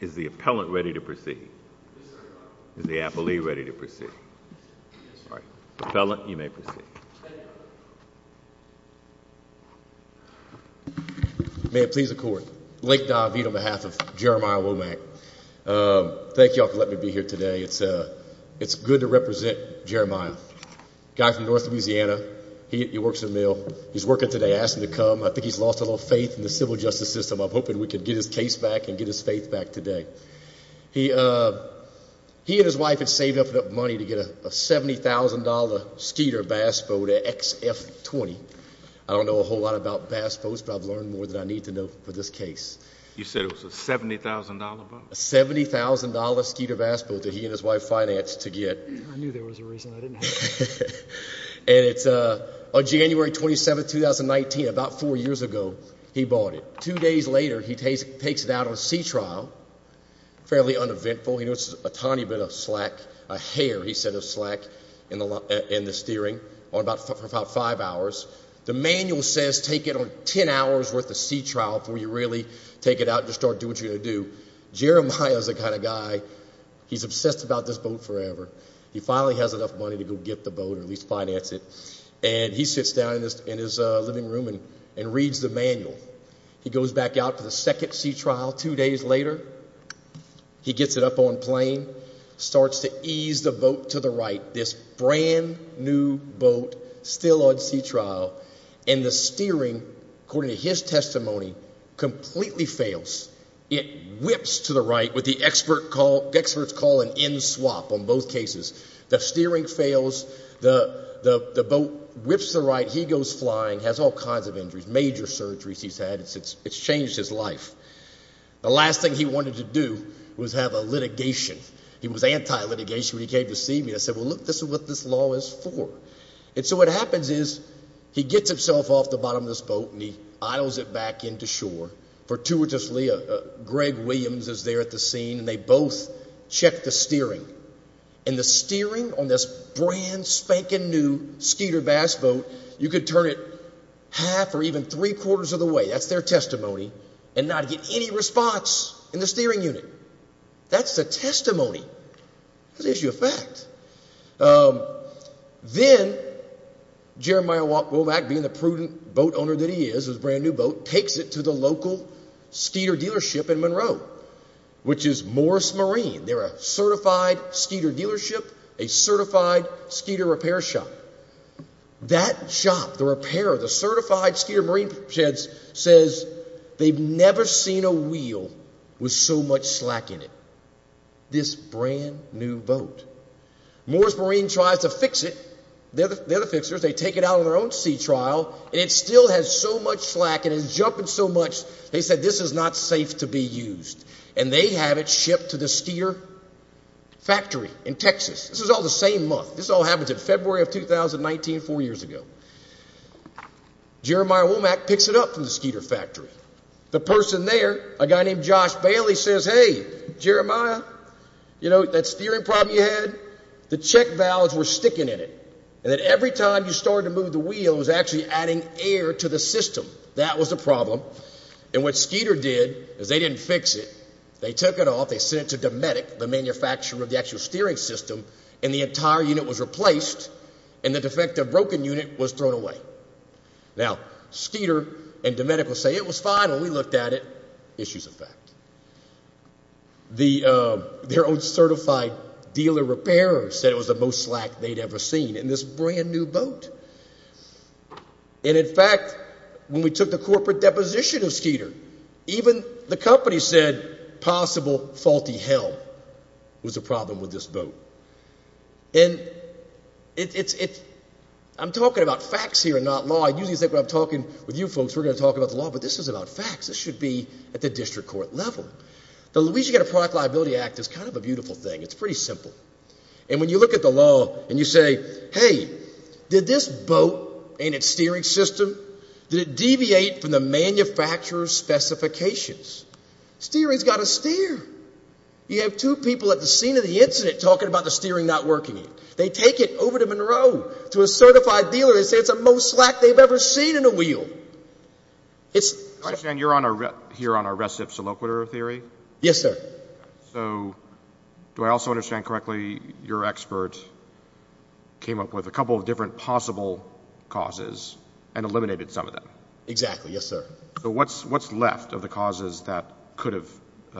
Is the appellant ready to proceed? Yes, sir. Is the appellee ready to proceed? Yes, sir. Appellant, you may proceed. Thank you. May it please the Court. Lake David on behalf of Jeremiah Womack. Thank you all for letting me be here today. It's good to represent Jeremiah, a guy from northern Louisiana. He works in the mill. He's working today. I asked him to come. I think he's lost a little faith in the civil justice system. I'm hoping we can get his case back and get his faith back today. He and his wife had saved up enough money to get a $70,000 Skeeter bass boat at XF20. I don't know a whole lot about bass boats, but I've learned more than I need to know for this case. You said it was a $70,000 boat? A $70,000 Skeeter bass boat that he and his wife financed to get. I knew there was a reason I didn't ask. And it's on January 27, 2019, about four years ago, he bought it. Two days later, he takes it out on a sea trial, fairly uneventful. He noticed a tiny bit of slack, a hair, he said, of slack in the steering for about five hours. The manual says take it on 10 hours worth of sea trial before you really take it out and just start doing what you're going to do. Jeremiah is the kind of guy, he's obsessed about this boat forever. He finally has enough money to go get the boat or at least finance it. And he sits down in his living room and reads the manual. He goes back out to the second sea trial. Two days later, he gets it up on plane, starts to ease the boat to the right, this brand-new boat still on sea trial. And the steering, according to his testimony, completely fails. It whips to the right with the experts calling in swap on both cases. The steering fails. The boat whips to the right. He goes flying, has all kinds of injuries, major surgeries he's had. It's changed his life. The last thing he wanted to do was have a litigation. He was anti-litigation when he came to see me. I said, well, look, this is what this law is for. And so what happens is he gets himself off the bottom of this boat and he idles it back into shore. Fortuitously, Greg Williams is there at the scene, and they both check the steering. And the steering on this brand-spanking-new Skeeter Bass boat, you could turn it half or even three-quarters of the way. That's their testimony. And not get any response in the steering unit. That's the testimony. That's the issue of fact. Then Jeremiah Womack, being the prudent boat owner that he is, this brand-new boat, takes it to the local Skeeter dealership in Monroe, which is Morris Marine. They're a certified Skeeter dealership, a certified Skeeter repair shop. That shop, the repair, the certified Skeeter Marine says they've never seen a wheel with so much slack in it. This brand-new boat. Morris Marine tries to fix it. They're the fixers. They take it out on their own sea trial, and it still has so much slack and is jumping so much, they said this is not safe to be used. And they have it shipped to the Skeeter factory in Texas. This was all the same month. This all happened in February of 2019, four years ago. Jeremiah Womack picks it up from the Skeeter factory. The person there, a guy named Josh Bailey says, hey, Jeremiah, you know, that steering problem you had, the check valves were sticking in it, and that every time you started to move the wheel, it was actually adding air to the system. That was the problem. And what Skeeter did is they didn't fix it. They took it off. They sent it to Dometic, the manufacturer of the actual steering system, and the entire unit was replaced, and the defective broken unit was thrown away. Now, Skeeter and Dometic will say it was fine, and we looked at it. Issues of fact. Their own certified dealer repairer said it was the most slack they'd ever seen in this brand new boat. And, in fact, when we took the corporate deposition of Skeeter, even the company said possible faulty helm was the problem with this boat. And I'm talking about facts here and not law. I usually think when I'm talking with you folks, we're going to talk about the law, but this is about facts. This should be at the district court level. The Louisiana Product Liability Act is kind of a beautiful thing. It's pretty simple. And when you look at the law and you say, hey, did this boat and its steering system, did it deviate from the manufacturer's specifications? Steering's got to steer. You have two people at the scene of the incident talking about the steering not working. They take it over to Monroe to a certified dealer. They say it's the most slack they've ever seen in a wheel. I understand you're here on arrest of soloquitor theory? Yes, sir. So do I also understand correctly your expert came up with a couple of different possible causes and eliminated some of them? Exactly, yes, sir. So what's left of the causes that could have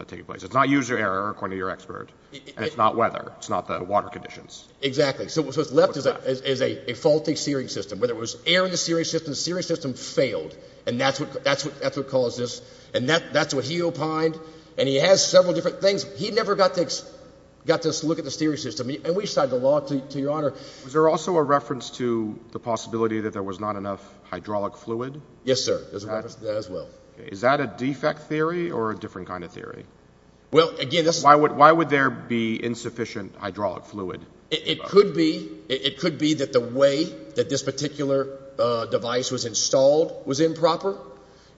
taken place? It's not user error, according to your expert, and it's not weather. It's not the water conditions. Exactly. So what's left is a faulty steering system. Whether it was air in the steering system, the steering system failed. And that's what caused this. And that's what he opined. And he has several different things. He never got to look at the steering system. And we cited the law to your honor. Was there also a reference to the possibility that there was not enough hydraulic fluid? Yes, sir. There's a reference to that as well. Is that a defect theory or a different kind of theory? Why would there be insufficient hydraulic fluid? It could be that the way that this particular device was installed was improper,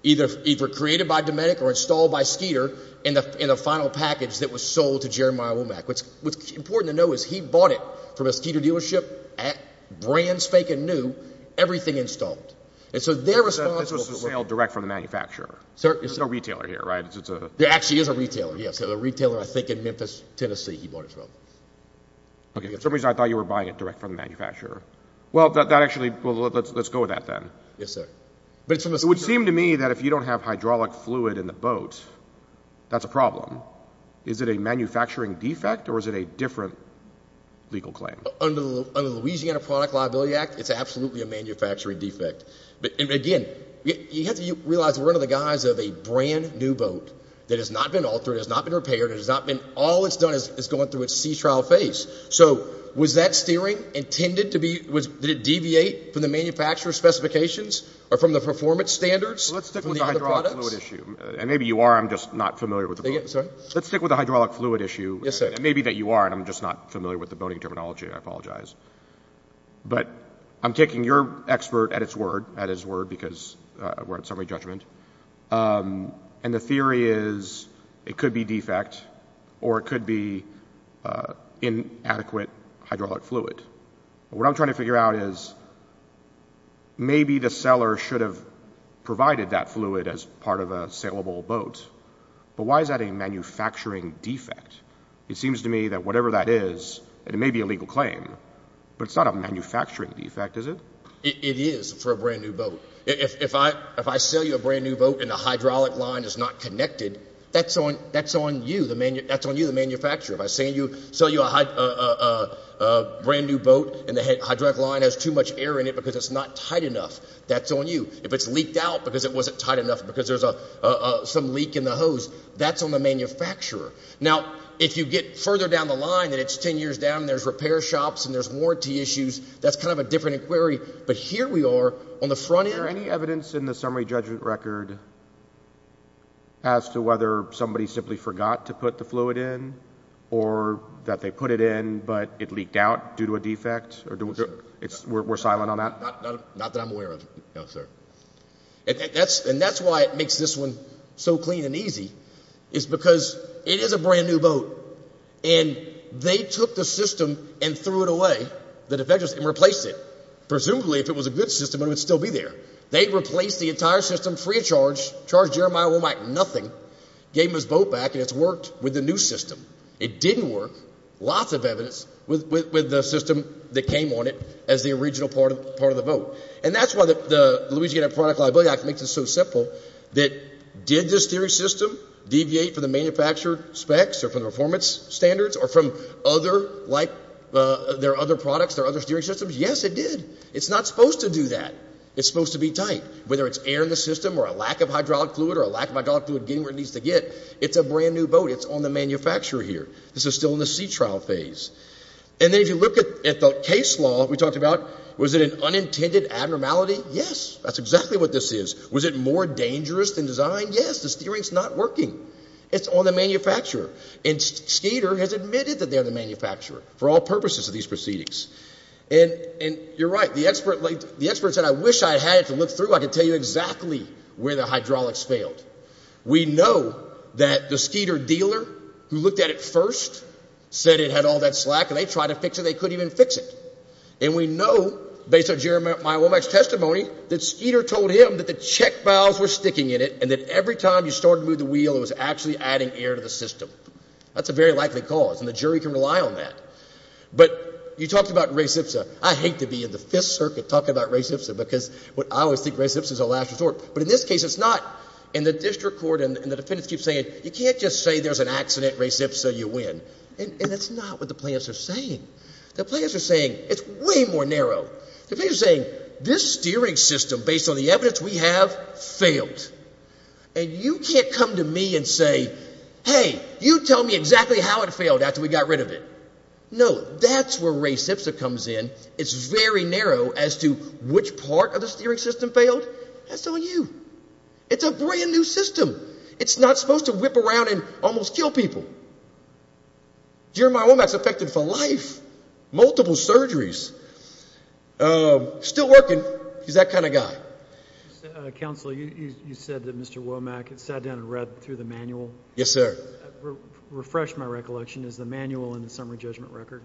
either created by Dometic or installed by Skeeter in the final package that was sold to Jeremiah Womack. What's important to know is he bought it from a Skeeter dealership, brand spanking new, everything installed. This was a sale direct from the manufacturer. There's no retailer here, right? There actually is a retailer, yes. A retailer I think in Memphis, Tennessee he bought it from. Okay. For some reason I thought you were buying it direct from the manufacturer. Well, let's go with that then. Yes, sir. It would seem to me that if you don't have hydraulic fluid in the boat, that's a problem. Is it a manufacturing defect or is it a different legal claim? Under the Louisiana Product Liability Act, it's absolutely a manufacturing defect. Again, you have to realize we're under the guise of a brand new boat that has not been altered, has not been repaired, and all it's done is going through its sea trial phase. So was that steering intended to be, did it deviate from the manufacturer's specifications or from the performance standards of the other products? Let's stick with the hydraulic fluid issue. And maybe you are, I'm just not familiar with the boat. Sorry? Let's stick with the hydraulic fluid issue. Yes, sir. Maybe that you are, and I'm just not familiar with the boating terminology. I apologize. But I'm taking your expert at his word because we're at summary judgment, and the theory is it could be defect or it could be inadequate hydraulic fluid. What I'm trying to figure out is maybe the seller should have provided that fluid as part of a saleable boat, but why is that a manufacturing defect? It seems to me that whatever that is, it may be a legal claim, but it's not a manufacturing defect, is it? It is for a brand new boat. If I sell you a brand new boat and the hydraulic line is not connected, that's on you, the manufacturer. If I sell you a brand new boat and the hydraulic line has too much air in it because it's not tight enough, that's on you. If it's leaked out because it wasn't tight enough because there's some leak in the hose, that's on the manufacturer. Now, if you get further down the line and it's 10 years down and there's repair shops and there's warranty issues, that's kind of a different inquiry. But here we are on the front end. Is there any evidence in the summary judgment record as to whether somebody simply forgot to put the fluid in or that they put it in but it leaked out due to a defect? We're silent on that? Not that I'm aware of, no, sir. And that's why it makes this one so clean and easy is because it is a brand new boat, and they took the system and threw it away, the defectors, and replaced it. Presumably, if it was a good system, it would still be there. They replaced the entire system free of charge, charged Jeremiah Womack nothing, gave him his boat back, and it's worked with the new system. It didn't work, lots of evidence, with the system that came on it as the original part of the boat. And that's why the Louisiana Product Liability Act makes it so simple. Did this steering system deviate from the manufacturer specs or from the performance standards or from other like their other products, their other steering systems? Yes, it did. It's not supposed to do that. It's supposed to be tight. Whether it's air in the system or a lack of hydraulic fluid or a lack of hydraulic fluid getting where it needs to get, it's a brand new boat. It's on the manufacturer here. This is still in the sea trial phase. And then if you look at the case law that we talked about, was it an unintended abnormality? Yes, that's exactly what this is. Was it more dangerous than design? Yes, the steering's not working. It's on the manufacturer. And Skeeter has admitted that they're the manufacturer for all purposes of these proceedings. And you're right. The expert said, I wish I had it to look through. I could tell you exactly where the hydraulics failed. We know that the Skeeter dealer who looked at it first said it had all that slack, and they tried to fix it and they couldn't even fix it. And we know, based on Jeremiah Womack's testimony, that Skeeter told him that the check valves were sticking in it and that every time you started to move the wheel, it was actually adding air to the system. That's a very likely cause, and the jury can rely on that. But you talked about Ray Sipsa. I hate to be in the Fifth Circuit talking about Ray Sipsa because I always think Ray Sipsa's a last resort. But in this case, it's not. And the district court and the defendants keep saying, you can't just say there's an accident, Ray Sipsa, you win. And that's not what the plaintiffs are saying. The plaintiffs are saying it's way more narrow. The plaintiffs are saying this steering system, based on the evidence we have, failed. And you can't come to me and say, hey, you tell me exactly how it failed after we got rid of it. No, that's where Ray Sipsa comes in. It's very narrow as to which part of the steering system failed. That's on you. It's a brand-new system. It's not supposed to whip around and almost kill people. Jeremiah Womack's affected for life, multiple surgeries. Still working. He's that kind of guy. Counsel, you said that Mr. Womack sat down and read through the manual. Yes, sir. Refresh my recollection. Is the manual in the summary judgment record?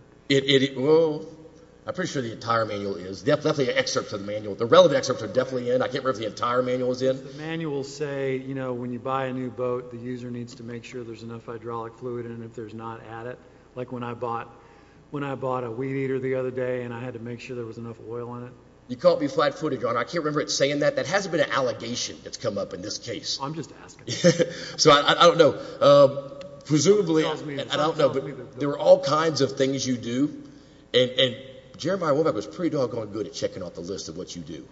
I'm pretty sure the entire manual is. There's definitely an excerpt to the manual. The relevant excerpts are definitely in. I can't remember if the entire manual is in. Does the manual say, you know, when you buy a new boat, the user needs to make sure there's enough hydraulic fluid in it. If there's not, add it. Like when I bought a weed eater the other day and I had to make sure there was enough oil in it. You caught me flat-footed, Your Honor. I can't remember it saying that. That hasn't been an allegation that's come up in this case. I'm just asking. So I don't know. Presumably, I don't know. But there are all kinds of things you do. And Jeremiah Womack was pretty doggone good at checking off the list of what you do.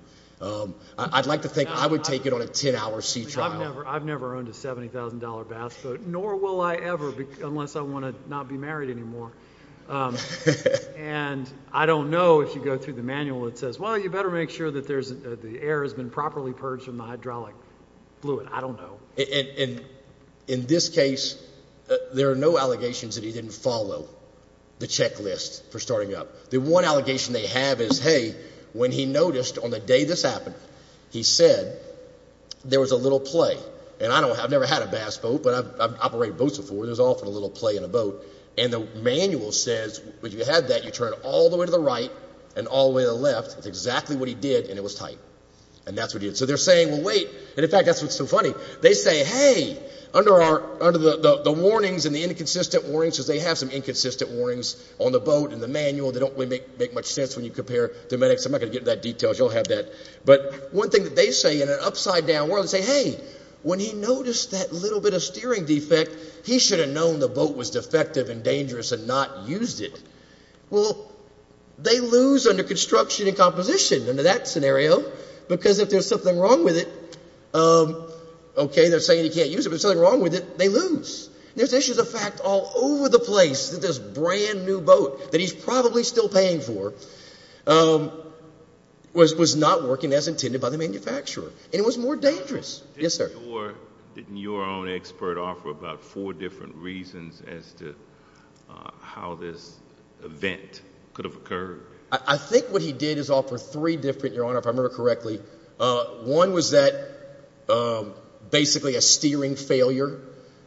I'd like to think I would take it on a 10-hour sea trial. I've never owned a $70,000 bass boat, nor will I ever unless I want to not be married anymore. And I don't know, if you go through the manual, it says, well, you better make sure that the air has been properly purged from the hydraulic fluid. I don't know. In this case, there are no allegations that he didn't follow the checklist for starting up. The one allegation they have is, hey, when he noticed on the day this happened, he said there was a little play. And I've never had a bass boat, but I've operated boats before. There's often a little play in a boat. And the manual says when you have that, you turn all the way to the right and all the way to the left. That's exactly what he did, and it was tight. And that's what he did. So they're saying, well, wait. And, in fact, that's what's so funny. They say, hey, under the warnings and the inconsistent warnings, because they have some inconsistent warnings on the boat and the manual that don't really make much sense when you compare them. I'm not going to get into that detail. You'll have that. But one thing that they say in an upside-down world, they say, hey, when he noticed that little bit of steering defect, he should have known the boat was defective and dangerous and not used it. Well, they lose under construction and composition, under that scenario, because if there's something wrong with it, okay, they're saying he can't use it, but if there's something wrong with it, they lose. There's issues of fact all over the place that this brand-new boat that he's probably still paying for was not working as intended by the manufacturer, and it was more dangerous. Yes, sir. Are you sure that your own expert offered about four different reasons as to how this event could have occurred? I think what he did is offer three different, Your Honor, if I remember correctly. One was that basically a steering failure.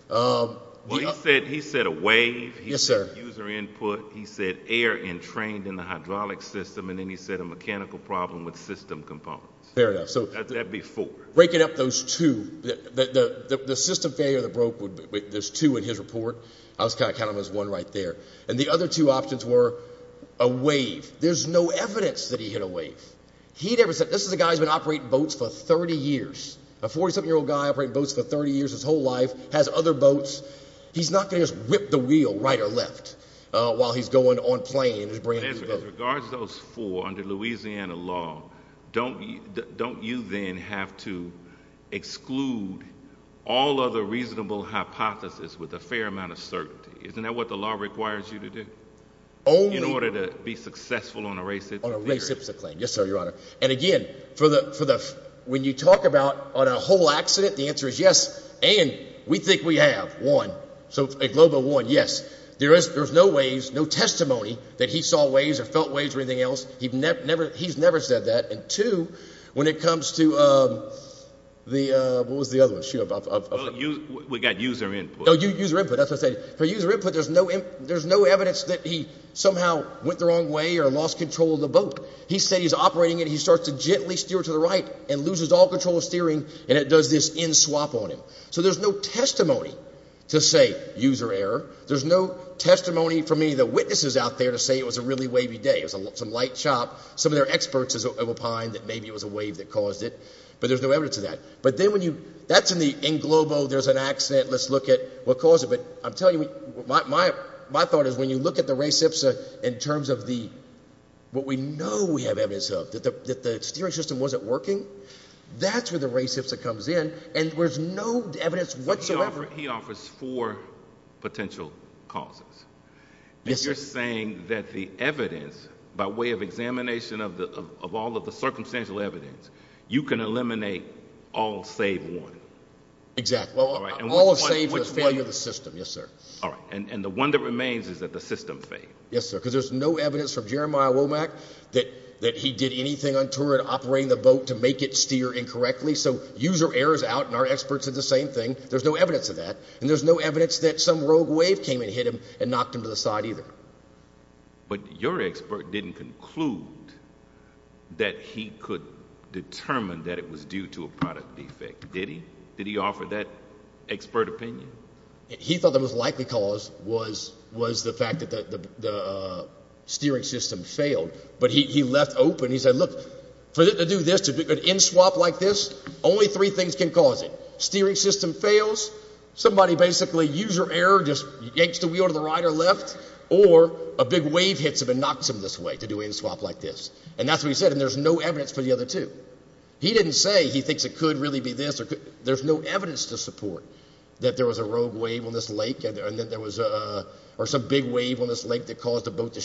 Well, he said a wave. Yes, sir. He said user input. He said air entrained in the hydraulic system, and then he said a mechanical problem with system components. Fair enough. That'd be four. Breaking up those two, the system failure that broke, there's two in his report. I was kind of counting them as one right there. And the other two options were a wave. There's no evidence that he hit a wave. This is a guy who's been operating boats for 30 years, a 47-year-old guy operating boats for 30 years, his whole life, has other boats. He's not going to just whip the wheel right or left while he's going on plane in his brand-new boat. As regards to those four, under Louisiana law, don't you then have to exclude all other reasonable hypotheses with a fair amount of certainty? Isn't that what the law requires you to do in order to be successful on a race? Yes, sir, Your Honor. And, again, when you talk about on a whole accident, the answer is yes, and we think we have one, a global one, yes. There's no waves, no testimony that he saw waves or felt waves or anything else. He's never said that. And, two, when it comes to the – what was the other one? We got user input. User input, that's what I said. For user input, there's no evidence that he somehow went the wrong way or lost control of the boat. He said he's operating it, and he starts to gently steer to the right and loses all control of steering, and it does this in-swap on him. So there's no testimony to say user error. There's no testimony from any of the witnesses out there to say it was a really wavy day. It was some light chop. Some of their experts opine that maybe it was a wave that caused it, but there's no evidence of that. But then when you – that's in the – in Globo, there's an accident. Let's look at what caused it. But I'm telling you, my thought is when you look at the race IPSA in terms of the – what we know we have evidence of, that the steering system wasn't working, that's where the race IPSA comes in, and there's no evidence whatsoever. However, he offers four potential causes. Yes, sir. And you're saying that the evidence, by way of examination of all of the circumstantial evidence, you can eliminate all save one. Exactly. All right. And which one – All of save is failure of the system, yes, sir. All right. And the one that remains is that the system failed. Yes, sir, because there's no evidence from Jeremiah Womack that he did anything untoward operating the boat to make it steer incorrectly. So user errors out, and our experts did the same thing. There's no evidence of that, and there's no evidence that some rogue wave came and hit him and knocked him to the side either. But your expert didn't conclude that he could determine that it was due to a product defect, did he? Did he offer that expert opinion? He thought the most likely cause was the fact that the steering system failed. But he left open – he said, look, for it to do this, to do an in-swap like this, only three things can cause it. Steering system fails, somebody basically user error, just yanks the wheel to the right or left, or a big wave hits him and knocks him this way to do an in-swap like this. And that's what he said, and there's no evidence for the other two. He didn't say he thinks it could really be this. There's no evidence to support that there was a rogue wave on this lake or some big wave on this lake that caused the boat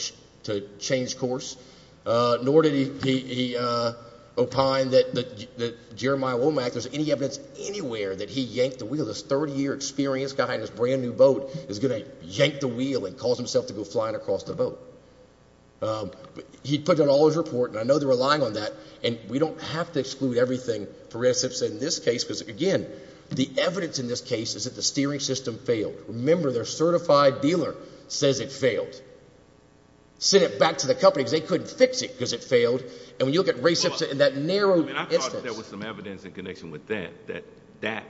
to change course. Nor did he opine that Jeremiah Womack – there's any evidence anywhere that he yanked the wheel. This 30-year experience guy in his brand-new boat is going to yank the wheel and cause himself to go flying across the boat. He put out all his report, and I know they're relying on that. And we don't have to exclude everything for Ray Simpson in this case because, again, the evidence in this case is that the steering system failed. Remember, their certified dealer says it failed. Send it back to the company because they couldn't fix it because it failed. And when you look at Ray Simpson in that narrow instance – I thought there was some evidence in connection with that, that that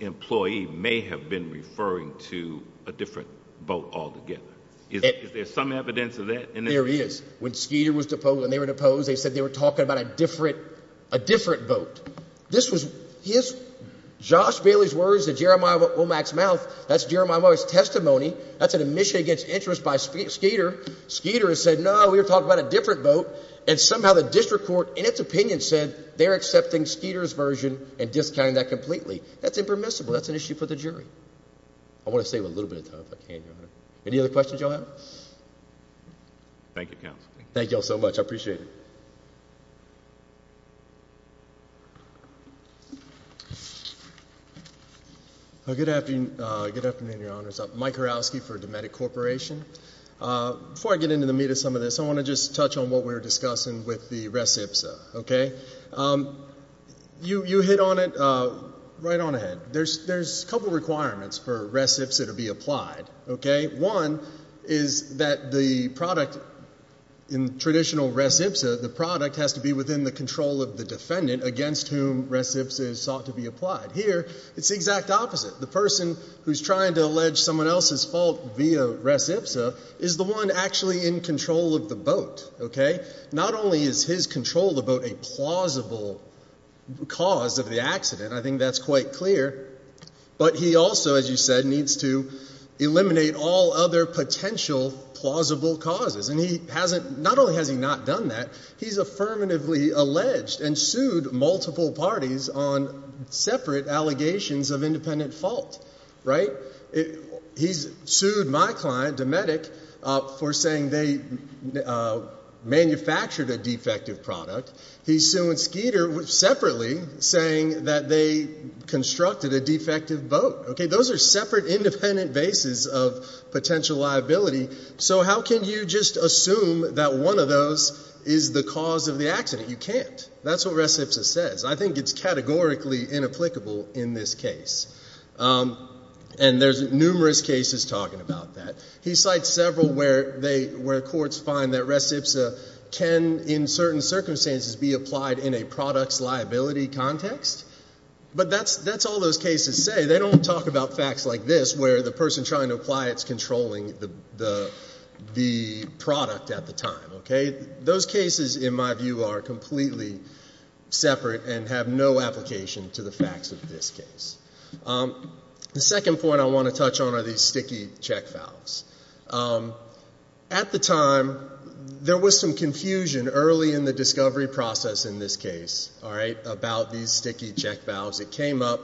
employee may have been referring to a different boat altogether. Is there some evidence of that? There is. When Skeeter was deposed and they were deposed, they said they were talking about a different boat. This was his – Josh Bailey's words to Jeremiah Womack's mouth. That's Jeremiah Womack's testimony. That's an admission against interest by Skeeter. Skeeter has said, no, we were talking about a different boat. And somehow the district court, in its opinion, said they're accepting Skeeter's version and discounting that completely. That's impermissible. That's an issue for the jury. I want to save a little bit of time if I can, Your Honor. Any other questions you all have? Thank you, Counsel. Thank you all so much. I appreciate it. Good afternoon, Your Honors. I'm Mike Horowski for Dometic Corporation. Before I get into the meat of some of this, I want to just touch on what we were discussing with the res ipsa, okay? You hit on it right on ahead. There's a couple requirements for res ipsa to be applied, okay? One is that the product in traditional res ipsa, the product has to be within the control of the defendant against whom res ipsa is sought to be applied. Here, it's the exact opposite. The person who's trying to allege someone else's fault via res ipsa is the one actually in control of the boat, okay? Not only is his control of the boat a plausible cause of the accident, I think that's quite clear. But he also, as you said, needs to eliminate all other potential plausible causes. And he hasn't, not only has he not done that, he's affirmatively alleged and sued multiple parties on separate allegations of independent fault, right? He's sued my client, Dometic, for saying they manufactured a defective product. He sued Skeeter separately saying that they constructed a defective boat, okay? Those are separate independent bases of potential liability. So how can you just assume that one of those is the cause of the accident? You can't. That's what res ipsa says. I think it's categorically inapplicable in this case. And there's numerous cases talking about that. He cites several where courts find that res ipsa can, in certain circumstances, be applied in a product's liability context. But that's all those cases say. They don't talk about facts like this where the person trying to apply it is controlling the product at the time, okay? Those cases, in my view, are completely separate and have no application to the facts of this case. The second point I want to touch on are these sticky check valves. At the time, there was some confusion early in the discovery process in this case, all right, about these sticky check valves. It came up.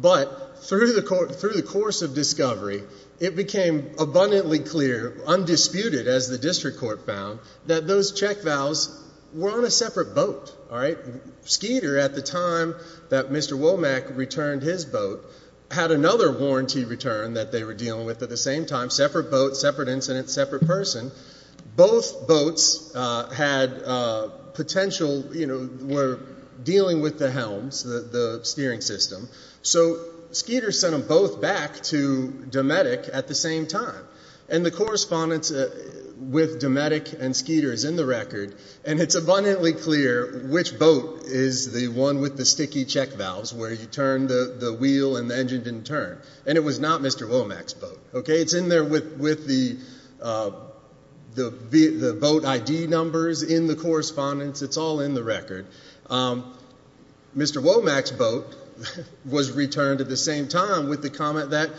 But through the course of discovery, it became abundantly clear, undisputed, as the district court found, that those check valves were on a separate boat, all right? Skeeter, at the time that Mr. Womack returned his boat, had another warranty return that they were dealing with at the same time, separate boat, separate incident, separate person. Both boats had potential, you know, were dealing with the helms, the steering system. So Skeeter sent them both back to Dometic at the same time. And the correspondence with Dometic and Skeeter is in the record, and it's abundantly clear which boat is the one with the sticky check valves where you turn the wheel and the engine didn't turn. And it was not Mr. Womack's boat, okay? It's in there with the boat ID numbers in the correspondence. It's all in the record. Mr. Womack's boat was returned at the same time with the comment that,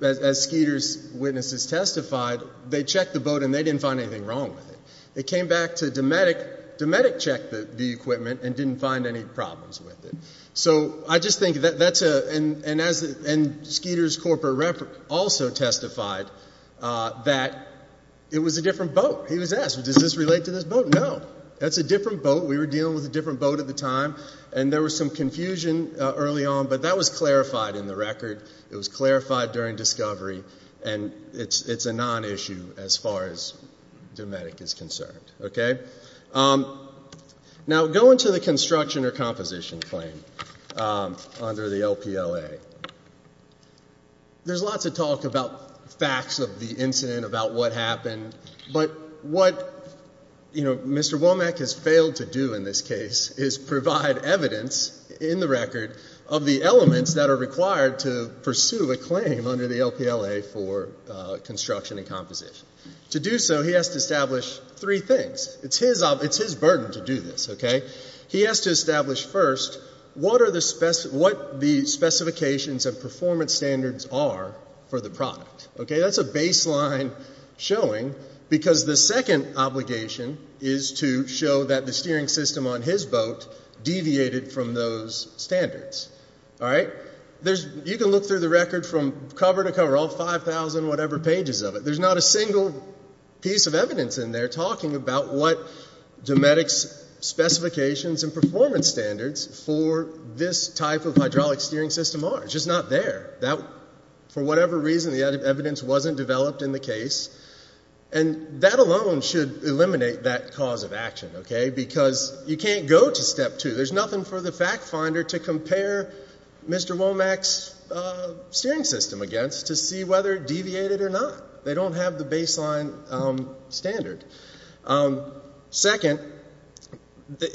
as Skeeter's witnesses testified, they checked the boat and they didn't find anything wrong with it. They came back to Dometic, Dometic checked the equipment and didn't find any problems with it. So I just think that's a, and Skeeter's corporate rep also testified that it was a different boat. He was asked, does this relate to this boat? No. That's a different boat. We were dealing with a different boat at the time, and there was some confusion early on, but that was clarified in the record. It was clarified during discovery, and it's a non-issue as far as Dometic is concerned, okay? Now, going to the construction or composition claim under the LPLA, there's lots of talk about facts of the incident, about what happened. But what, you know, Mr. Womack has failed to do in this case is provide evidence in the record of the elements that are required to pursue a claim under the LPLA for construction and composition. To do so, he has to establish three things. It's his burden to do this, okay? He has to establish first what the specifications and performance standards are for the product, okay? That's a baseline showing because the second obligation is to show that the steering system on his boat deviated from those standards, all right? You can look through the record from cover to cover, all 5,000 whatever pages of it. There's not a single piece of evidence in there talking about what Dometic's specifications and performance standards for this type of hydraulic steering system are. It's just not there. For whatever reason, the evidence wasn't developed in the case, and that alone should eliminate that cause of action, okay? Because you can't go to step two. There's nothing for the fact finder to compare Mr. Womack's steering system against to see whether it deviated or not. They don't have the baseline standard. Second,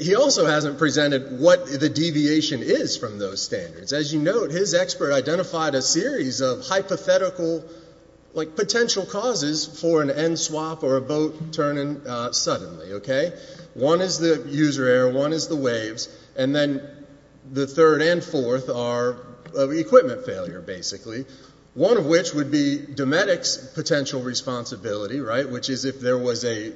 he also hasn't presented what the deviation is from those standards. As you note, his expert identified a series of hypothetical potential causes for an end swap or a boat turning suddenly, okay? One is the user error. One is the waves. And then the third and fourth are equipment failure, basically, one of which would be Dometic's potential responsibility, right, which is if there was a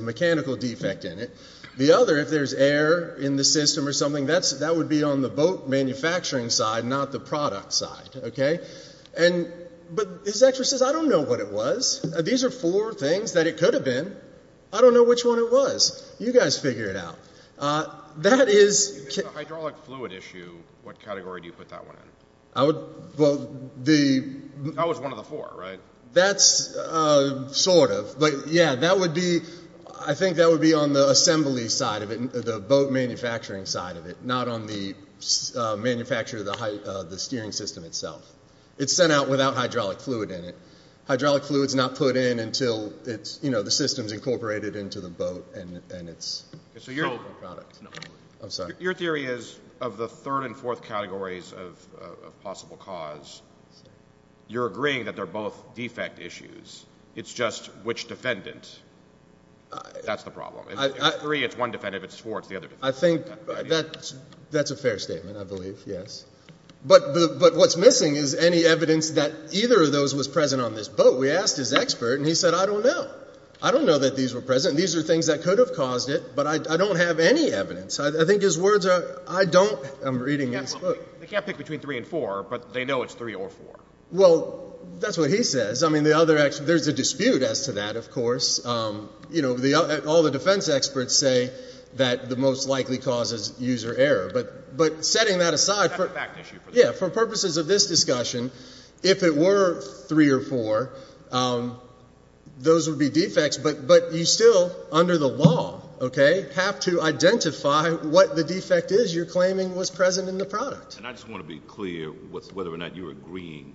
mechanical defect in it. The other, if there's air in the system or something, that would be on the boat manufacturing side, not the product side, okay? But his expert says, I don't know what it was. These are four things that it could have been. I don't know which one it was. You guys figure it out. That is – If it's a hydraulic fluid issue, what category do you put that one in? I would – well, the – That was one of the four, right? That's sort of. But, yeah, that would be – I think that would be on the assembly side of it, the boat manufacturing side of it, not on the manufacture of the steering system itself. It's sent out without hydraulic fluid in it. Hydraulic fluid is not put in until it's – you know, the system is incorporated into the boat and it's sold as a product. I'm sorry. Your theory is of the third and fourth categories of possible cause, you're agreeing that they're both defect issues. It's just which defendant. That's the problem. If it's three, it's one defendant. If it's four, it's the other defendant. I think that's a fair statement, I believe, yes. But what's missing is any evidence that either of those was present on this boat. We asked his expert, and he said, I don't know. I don't know that these were present. These are things that could have caused it, but I don't have any evidence. I think his words are – I don't – I'm reading his book. They can't pick between three and four, but they know it's three or four. Well, that's what he says. I mean, the other – there's a dispute as to that, of course. You know, all the defense experts say that the most likely cause is user error. But setting that aside for – That's a fact issue for them. Yeah. For purposes of this discussion, if it were three or four, those would be defects. But you still, under the law, okay, have to identify what the defect is you're claiming was present in the product. And I just want to be clear with whether or not you're agreeing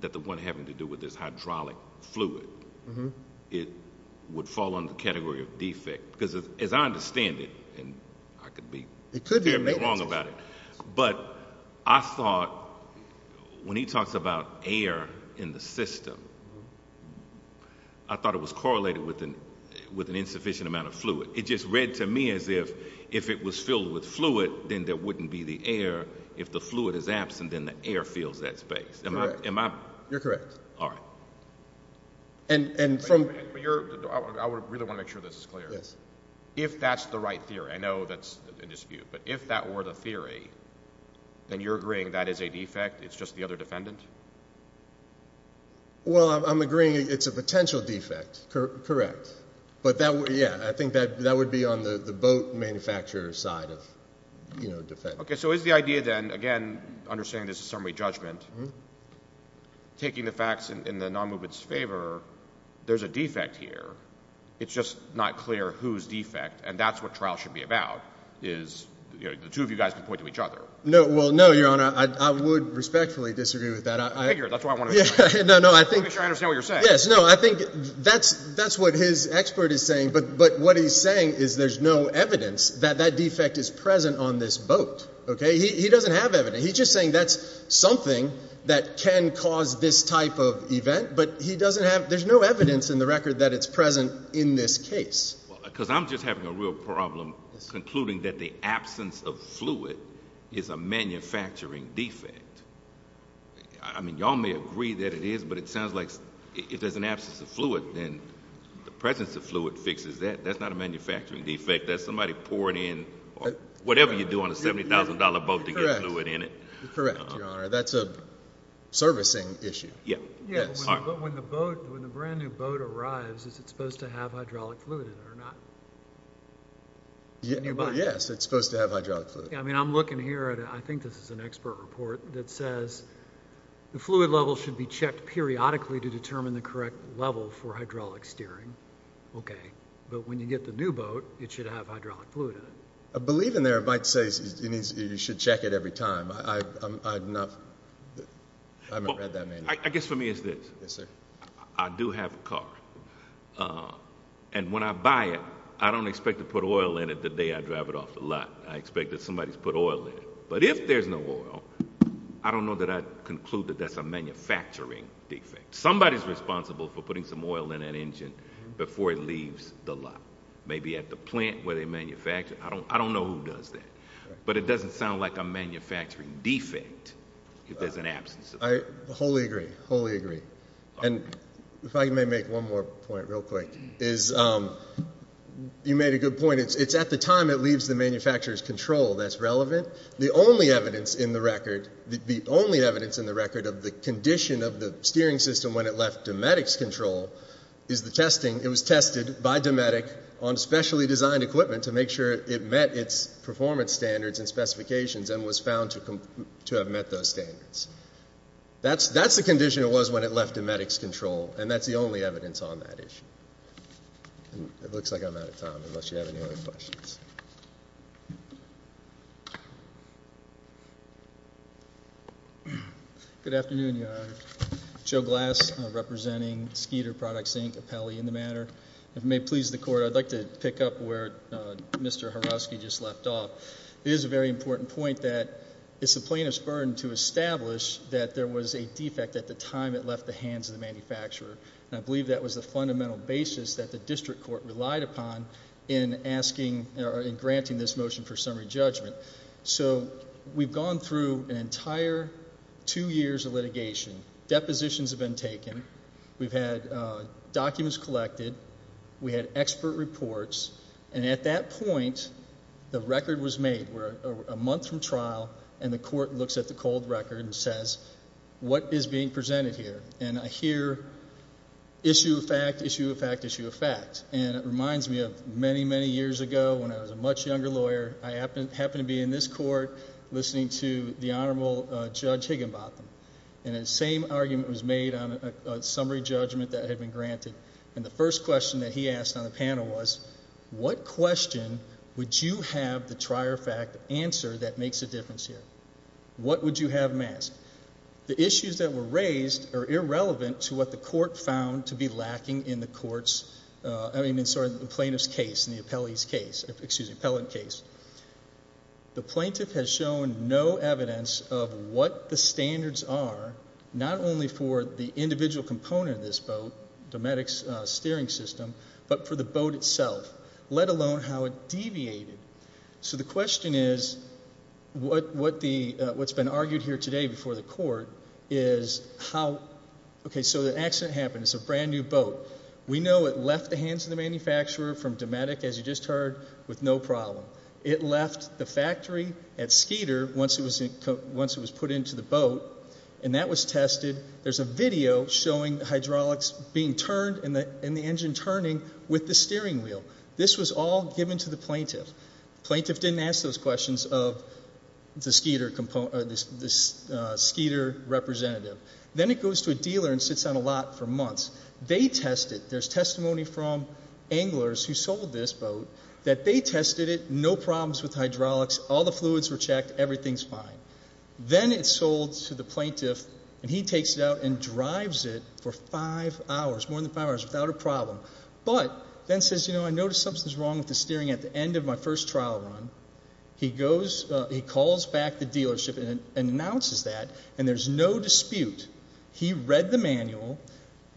that the one having to do with this hydraulic fluid, it would fall under the category of defect because, as I understand it, and I could be – It could be. I could be wrong about it, but I thought when he talks about air in the system, I thought it was correlated with an insufficient amount of fluid. It just read to me as if if it was filled with fluid, then there wouldn't be the air. If the fluid is absent, then the air fills that space. Am I – You're correct. All right. And from – Wait a minute. I really want to make sure this is clear. Yes. If that's the right theory – I know that's a dispute, but if that were the theory, then you're agreeing that is a defect, it's just the other defendant? Well, I'm agreeing it's a potential defect. Correct. But, yeah, I think that would be on the boat manufacturer side of defect. Okay. So is the idea then, again, understanding this is summary judgment, taking the facts in the non-movement's favor, there's a defect here. It's just not clear whose defect, and that's what trial should be about, is the two of you guys can point to each other. No. Well, no, Your Honor. I would respectfully disagree with that. Figure it. That's what I want to know. No, no. I think – I think what this expert is saying, but what he's saying is there's no evidence that that defect is present on this boat. Okay? He doesn't have evidence. He's just saying that's something that can cause this type of event, but he doesn't have – there's no evidence in the record that it's present in this case. Because I'm just having a real problem concluding that the absence of fluid is a manufacturing defect. I mean, y'all may agree that it is, but it sounds like if there's an absence of fluid, then the presence of fluid fixes that. That's not a manufacturing defect. That's somebody pouring in whatever you do on a $70,000 boat to get fluid in it. Correct. Correct, Your Honor. That's a servicing issue. Yeah. Yes. But when the boat – when the brand-new boat arrives, is it supposed to have hydraulic fluid in it or not? Yes, it's supposed to have hydraulic fluid. I mean, I'm looking here at – I think this is an expert report that says the fluid level should be checked periodically to determine the correct level for hydraulic steering. Okay. But when you get the new boat, it should have hydraulic fluid in it. I believe in there it might say you should check it every time. I'm not – I haven't read that manual. I guess for me it's this. Yes, sir. I do have a car. And when I buy it, I don't expect to put oil in it the day I drive it off the lot. I expect that somebody's put oil in it. But if there's no oil, I don't know that I'd conclude that that's a manufacturing defect. Somebody's responsible for putting some oil in an engine before it leaves the lot, maybe at the plant where they manufacture it. I don't know who does that. But it doesn't sound like a manufacturing defect if there's an absence of it. I wholly agree, wholly agree. And if I may make one more point real quick is you made a good point. It's at the time it leaves the manufacturer's control that's relevant. The only evidence in the record, the only evidence in the record of the condition of the steering system when it left Dometic's control is the testing. It was tested by Dometic on specially designed equipment to make sure it met its performance standards and specifications and was found to have met those standards. That's the condition it was when it left Dometic's control, and that's the only evidence on that issue. It looks like I'm out of time unless you have any other questions. Good afternoon, Your Honor. Joe Glass representing Skeeter Products, Inc., of Pelley in the matter. If it may please the Court, I'd like to pick up where Mr. Horowski just left off. It is a very important point that it's the plaintiff's burden to establish that there was a defect at the time it left the hands of the manufacturer, and I believe that was the fundamental basis that the district court relied upon in granting this motion for summary judgment. So we've gone through an entire two years of litigation. Depositions have been taken. We've had documents collected. We had expert reports, and at that point, the record was made. We're a month from trial, and the court looks at the cold record and says, what is being presented here? And I hear issue of fact, issue of fact, issue of fact, and it reminds me of many, many years ago when I was a much younger lawyer. I happened to be in this court listening to the Honorable Judge Higginbotham, and the same argument was made on a summary judgment that had been granted, and the first question that he asked on the panel was, what question would you have the trier fact answer that makes a difference here? What would you have him ask? The issues that were raised are irrelevant to what the court found to be lacking in the plaintiff's case and the appellant's case. The plaintiff has shown no evidence of what the standards are, not only for the individual component of this boat, Dometic's steering system, but for the boat itself, let alone how it deviated. So the question is, what's been argued here today before the court is how, okay, so the accident happened. It's a brand-new boat. We know it left the hands of the manufacturer from Dometic, as you just heard, with no problem. It left the factory at Skeeter once it was put into the boat, and that was tested. There's a video showing the hydraulics being turned and the engine turning with the steering wheel. This was all given to the plaintiff. The plaintiff didn't ask those questions of the Skeeter representative. Then it goes to a dealer and sits on a lot for months. They test it. There's testimony from anglers who sold this boat that they tested it, no problems with hydraulics, all the fluids were checked, everything's fine. Then it's sold to the plaintiff, and he takes it out But then says, you know, I noticed something's wrong with the steering at the end of my first trial run. He calls back the dealership and announces that, and there's no dispute. He read the manual.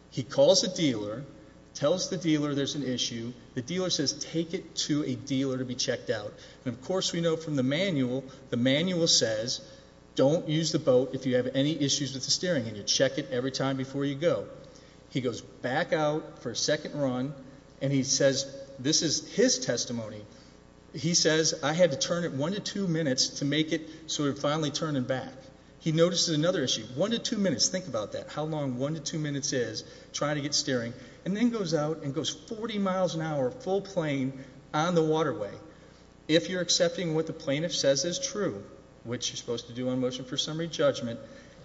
He calls the dealer, tells the dealer there's an issue. The dealer says, take it to a dealer to be checked out. And, of course, we know from the manual, the manual says, don't use the boat if you have any issues with the steering, and you check it every time before you go. He goes back out for a second run, and he says, this is his testimony. He says, I had to turn it one to two minutes to make it so it would finally turn and back. He notices another issue, one to two minutes. Think about that, how long one to two minutes is trying to get steering. And then goes out and goes 40 miles an hour, full plane, on the waterway. If you're accepting what the plaintiff says is true, which you're supposed to do on motion for summary judgment,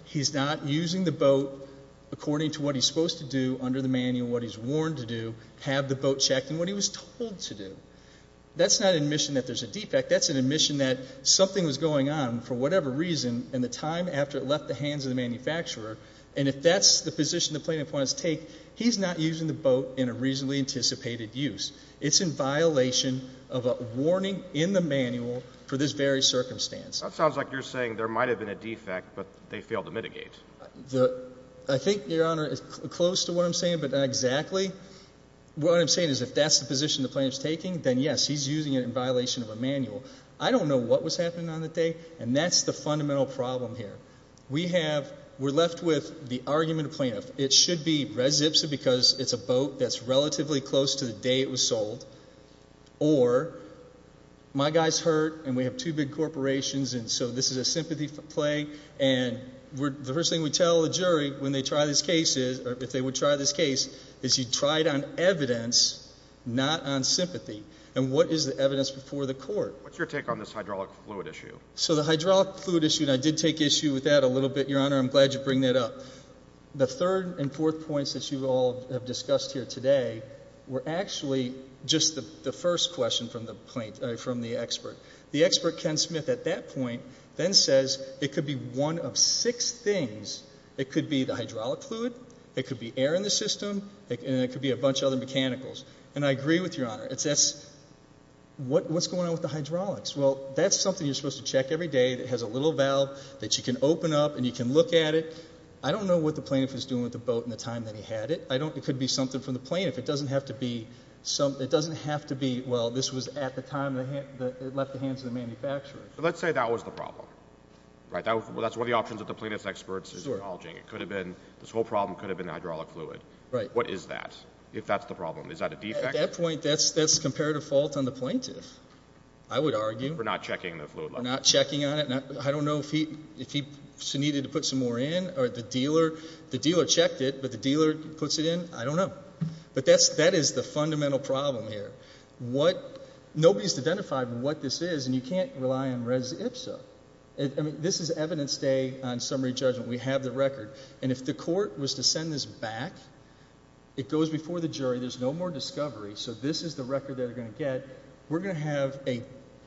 he's not using the boat according to what he's supposed to do under the manual, what he's warned to do, have the boat checked, and what he was told to do. That's not admission that there's a defect. That's an admission that something was going on for whatever reason and the time after it left the hands of the manufacturer, and if that's the position the plaintiff wants to take, he's not using the boat in a reasonably anticipated use. It's in violation of a warning in the manual for this very circumstance. That sounds like you're saying there might have been a defect, but they failed to mitigate. I think, Your Honor, it's close to what I'm saying, but not exactly. What I'm saying is if that's the position the plaintiff's taking, then yes, he's using it in violation of a manual. I don't know what was happening on that day, and that's the fundamental problem here. We're left with the argument of the plaintiff. It should be res ipsa because it's a boat that's relatively close to the day it was sold, or my guy's hurt and we have two big corporations, and so this is a sympathy play, and the first thing we tell the jury when they try this case is, or if they would try this case, is you try it on evidence, not on sympathy. And what is the evidence before the court? What's your take on this hydraulic fluid issue? So the hydraulic fluid issue, and I did take issue with that a little bit, Your Honor. I'm glad you bring that up. The third and fourth points that you all have discussed here today were actually just the first question from the expert. The expert, Ken Smith, at that point then says it could be one of six things. It could be the hydraulic fluid. It could be air in the system, and it could be a bunch of other mechanicals, and I agree with Your Honor. What's going on with the hydraulics? Well, that's something you're supposed to check every day. It has a little valve that you can open up and you can look at it. I don't know what the plaintiff is doing with the boat in the time that he had it. It could be something from the plaintiff. It doesn't have to be, well, this was at the time it left the hands of the manufacturer. Let's say that was the problem. That's one of the options that the plaintiff's expert is acknowledging. This whole problem could have been the hydraulic fluid. What is that if that's the problem? Is that a defect? At that point, that's comparative fault on the plaintiff, I would argue. For not checking the fluid level. Not checking on it. I don't know if he needed to put some more in, or the dealer checked it, but the dealer puts it in. I don't know. But that is the fundamental problem here. Nobody's identified what this is, and you can't rely on res ipsa. This is evidence day on summary judgment. We have the record. And if the court was to send this back, it goes before the jury. There's no more discovery. So this is the record they're going to get. We're going to have a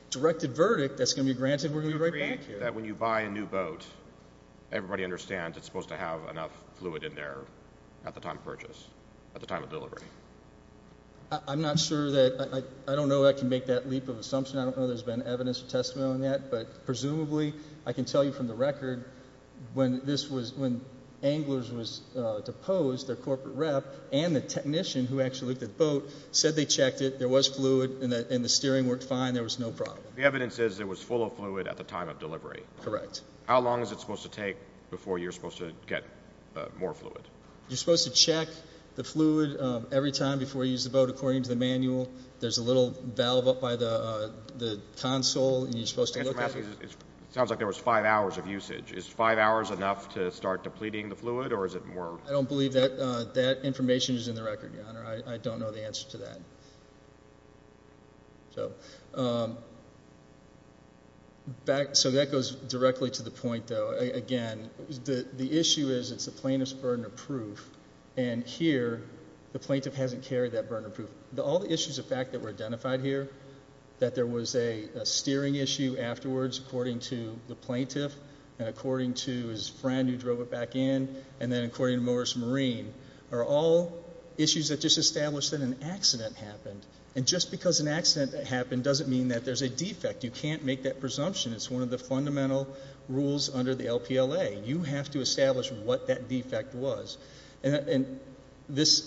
directed verdict that's going to be granted. When you buy a new boat, everybody understands it's supposed to have enough fluid in there at the time of purchase. At the time of delivery. I'm not sure that, I don't know if I can make that leap of assumption. I don't know if there's been evidence or testimony on that. But presumably, I can tell you from the record, when anglers was deposed, their corporate rep, and the technician who actually looked at the boat said they checked it, there was fluid, and the steering worked fine, there was no problem. The evidence is it was full of fluid at the time of delivery. Correct. How long is it supposed to take before you're supposed to get more fluid? You're supposed to check the fluid every time before you use the boat according to the manual. There's a little valve up by the console, and you're supposed to look at it. It sounds like there was five hours of usage. Is five hours enough to start depleting the fluid, or is it more? I don't believe that information is in the record, Your Honor. I don't know the answer to that. So that goes directly to the point, though. Again, the issue is it's the plaintiff's burden of proof, and here the plaintiff hasn't carried that burden of proof. All the issues of fact that were identified here, that there was a steering issue afterwards according to the plaintiff and according to his friend who drove it back in, and then according to Morris Marine, are all issues that just establish that an accident happened. And just because an accident happened doesn't mean that there's a defect. You can't make that presumption. It's one of the fundamental rules under the LPLA. You have to establish what that defect was. And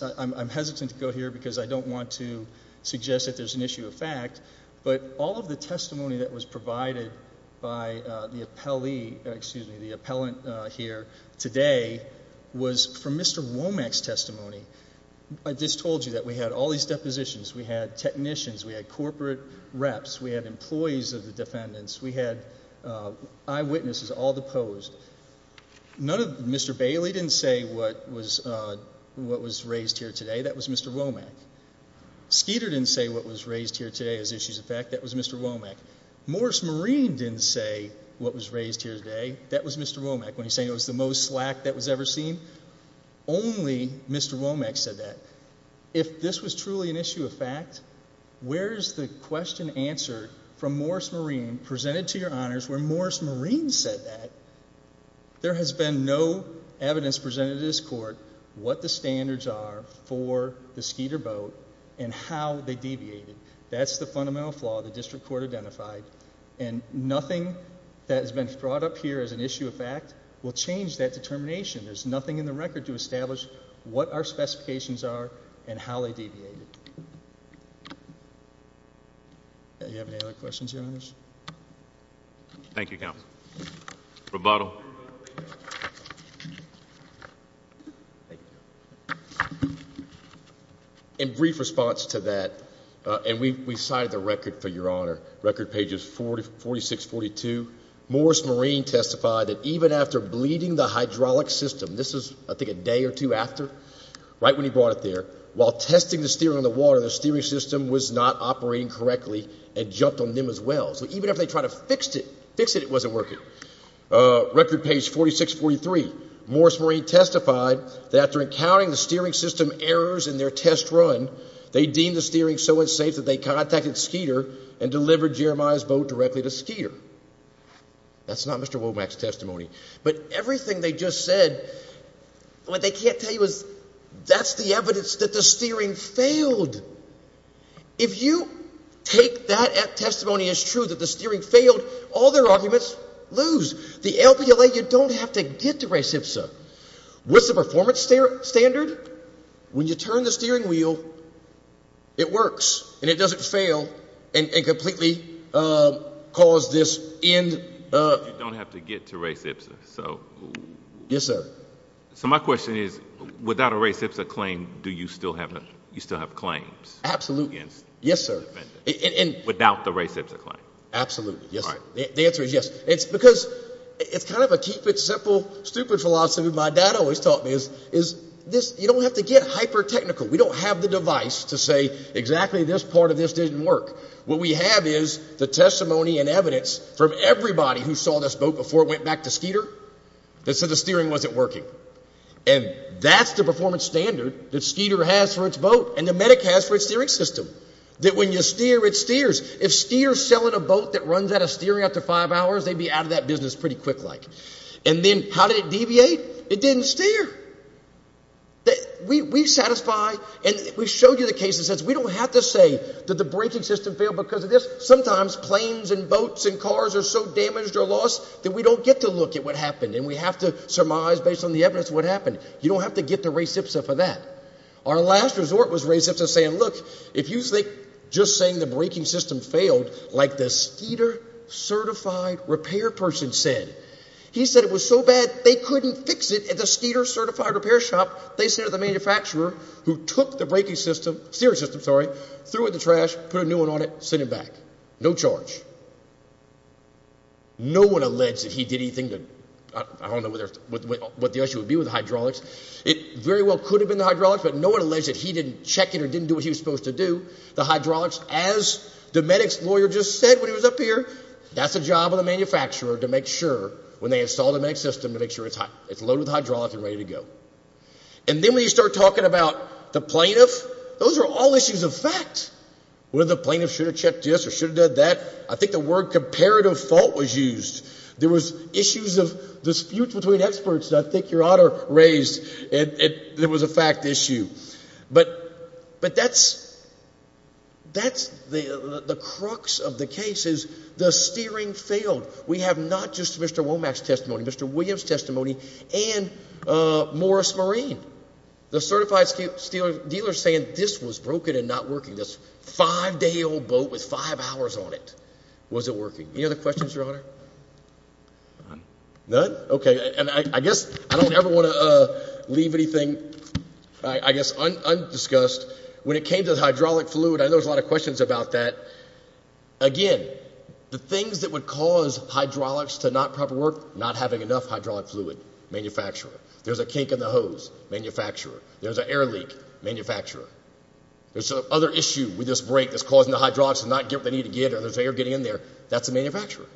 I'm hesitant to go here because I don't want to suggest that there's an issue of fact, but all of the testimony that was provided by the appellant here today was from Mr. Womack's testimony. I just told you that we had all these depositions. We had technicians. We had corporate reps. We had employees of the defendants. We had eyewitnesses, all deposed. Mr. Bailey didn't say what was raised here today. That was Mr. Womack. Skeeter didn't say what was raised here today as issues of fact. That was Mr. Womack. Morris Marine didn't say what was raised here today. That was Mr. Womack when he was saying it was the most slack that was ever seen. Only Mr. Womack said that. If this was truly an issue of fact, where is the question answered from Morris Marine, presented to your honors, where Morris Marine said that? There has been no evidence presented to this court what the standards are for the Skeeter boat and how they deviated. That's the fundamental flaw the district court identified, and nothing that has been brought up here as an issue of fact will change that determination. There's nothing in the record to establish what our specifications are and how they deviated. Do you have any other questions, your honors? Thank you, counsel. Roboto. In brief response to that, and we cited the record for your honor, record pages 46-42, Morris Marine testified that even after bleeding the hydraulic system, this is I think a day or two after, right when he brought it there, while testing the steering on the water, the steering system was not operating correctly and jumped on them as well. So even after they tried to fix it, it wasn't working. Record page 46-43, Morris Marine testified that after encountering the steering system errors in their test run, they deemed the steering so unsafe that they contacted Skeeter and delivered Jeremiah's boat directly to Skeeter. That's not Mr. Womack's testimony. But everything they just said, what they can't tell you is that's the evidence that the steering failed. If you take that testimony as true, that the steering failed, all their arguments lose. The LBLA, you don't have to get to race IPSA. What's the performance standard? When you turn the steering wheel, it works. And it doesn't fail and completely cause this end. You don't have to get to race IPSA. Yes, sir. So my question is, without a race IPSA claim, do you still have claims? Absolutely. Yes, sir. Without the race IPSA claim? Absolutely. The answer is yes. It's because it's kind of a keep it simple, stupid philosophy my dad always taught me. You don't have to get hyper technical. We don't have the device to say exactly this part of this didn't work. What we have is the testimony and evidence from everybody who saw this boat before it went back to Skeeter that said the steering wasn't working. And that's the performance standard that Skeeter has for its boat and that MEDIC has for its steering system. That when you steer, it steers. If Skeeter is selling a boat that runs out of steering after five hours, they'd be out of that business pretty quick-like. And then how did it deviate? It didn't steer. We satisfy, and we showed you the cases, we don't have to say that the braking system failed because of this. Sometimes planes and boats and cars are so damaged or lost that we don't get to look at what happened and we have to surmise based on the evidence what happened. You don't have to get the race IPSA for that. Our last resort was race IPSA saying, look, if you think just saying the braking system failed like the Skeeter certified repair person said, he said it was so bad they couldn't fix it at the Skeeter certified repair shop, they sent it to the manufacturer who took the braking system, steering system, sorry, threw it in the trash, put a new one on it, sent it back. No charge. No one alleged that he did anything to, I don't know what the issue would be with hydraulics. It very well could have been the hydraulics, but no one alleged that he didn't check it or didn't do what he was supposed to do. The hydraulics, as the medics lawyer just said when he was up here, that's the job of the manufacturer to make sure when they install the next system to make sure it's loaded with hydraulics and ready to go. And then when you start talking about the plaintiff, those are all issues of fact. Whether the plaintiff should have checked this or should have done that, I think the word comparative fault was used. There was issues of dispute between experts that I think your honor raised. It was a fact issue. But that's the crux of the case is the steering failed. We have not just Mr. Womack's testimony, Mr. Williams' testimony and Morris Marine. The certified steel dealer saying this was broken and not working, this five-day-old boat with five hours on it. Was it working? Any other questions, your honor? None. None? Okay. And I guess I don't ever want to leave anything, I guess, undiscussed. When it came to the hydraulic fluid, I know there's a lot of questions about that. Again, the things that would cause hydraulics to not proper work, not having enough hydraulic fluid, manufacturer. There's a kink in the hose, manufacturer. There's an air leak, manufacturer. There's some other issue with this break that's causing the hydraulics to not get what they need to get or there's air getting in there. That's the manufacturer.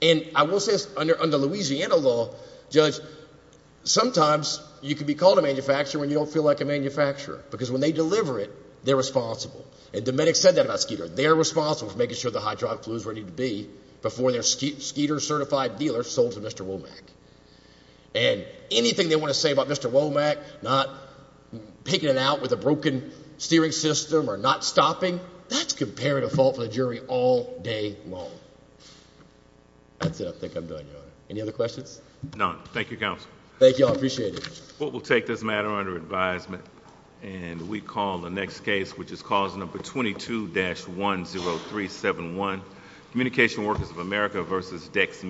And I will say this, under Louisiana law, judge, sometimes you can be called a manufacturer when you don't feel like a manufacturer because when they deliver it, they're responsible. And the medics said that about Skeeter. They're responsible for making sure the hydraulic fluid is ready to be before their Skeeter certified dealer sold to Mr. Womack. And anything they want to say about Mr. Womack, not picking it out with a broken steering system or not stopping, that's comparative fault for the jury all day long. That's it. I think I'm done, Your Honor. Any other questions? None. Thank you, Counsel. Thank you, Your Honor. I appreciate it. The court will take this matter under advisement. And we call the next case, which is cause number 22-10371, Communication Workers of America v. Dex & Me.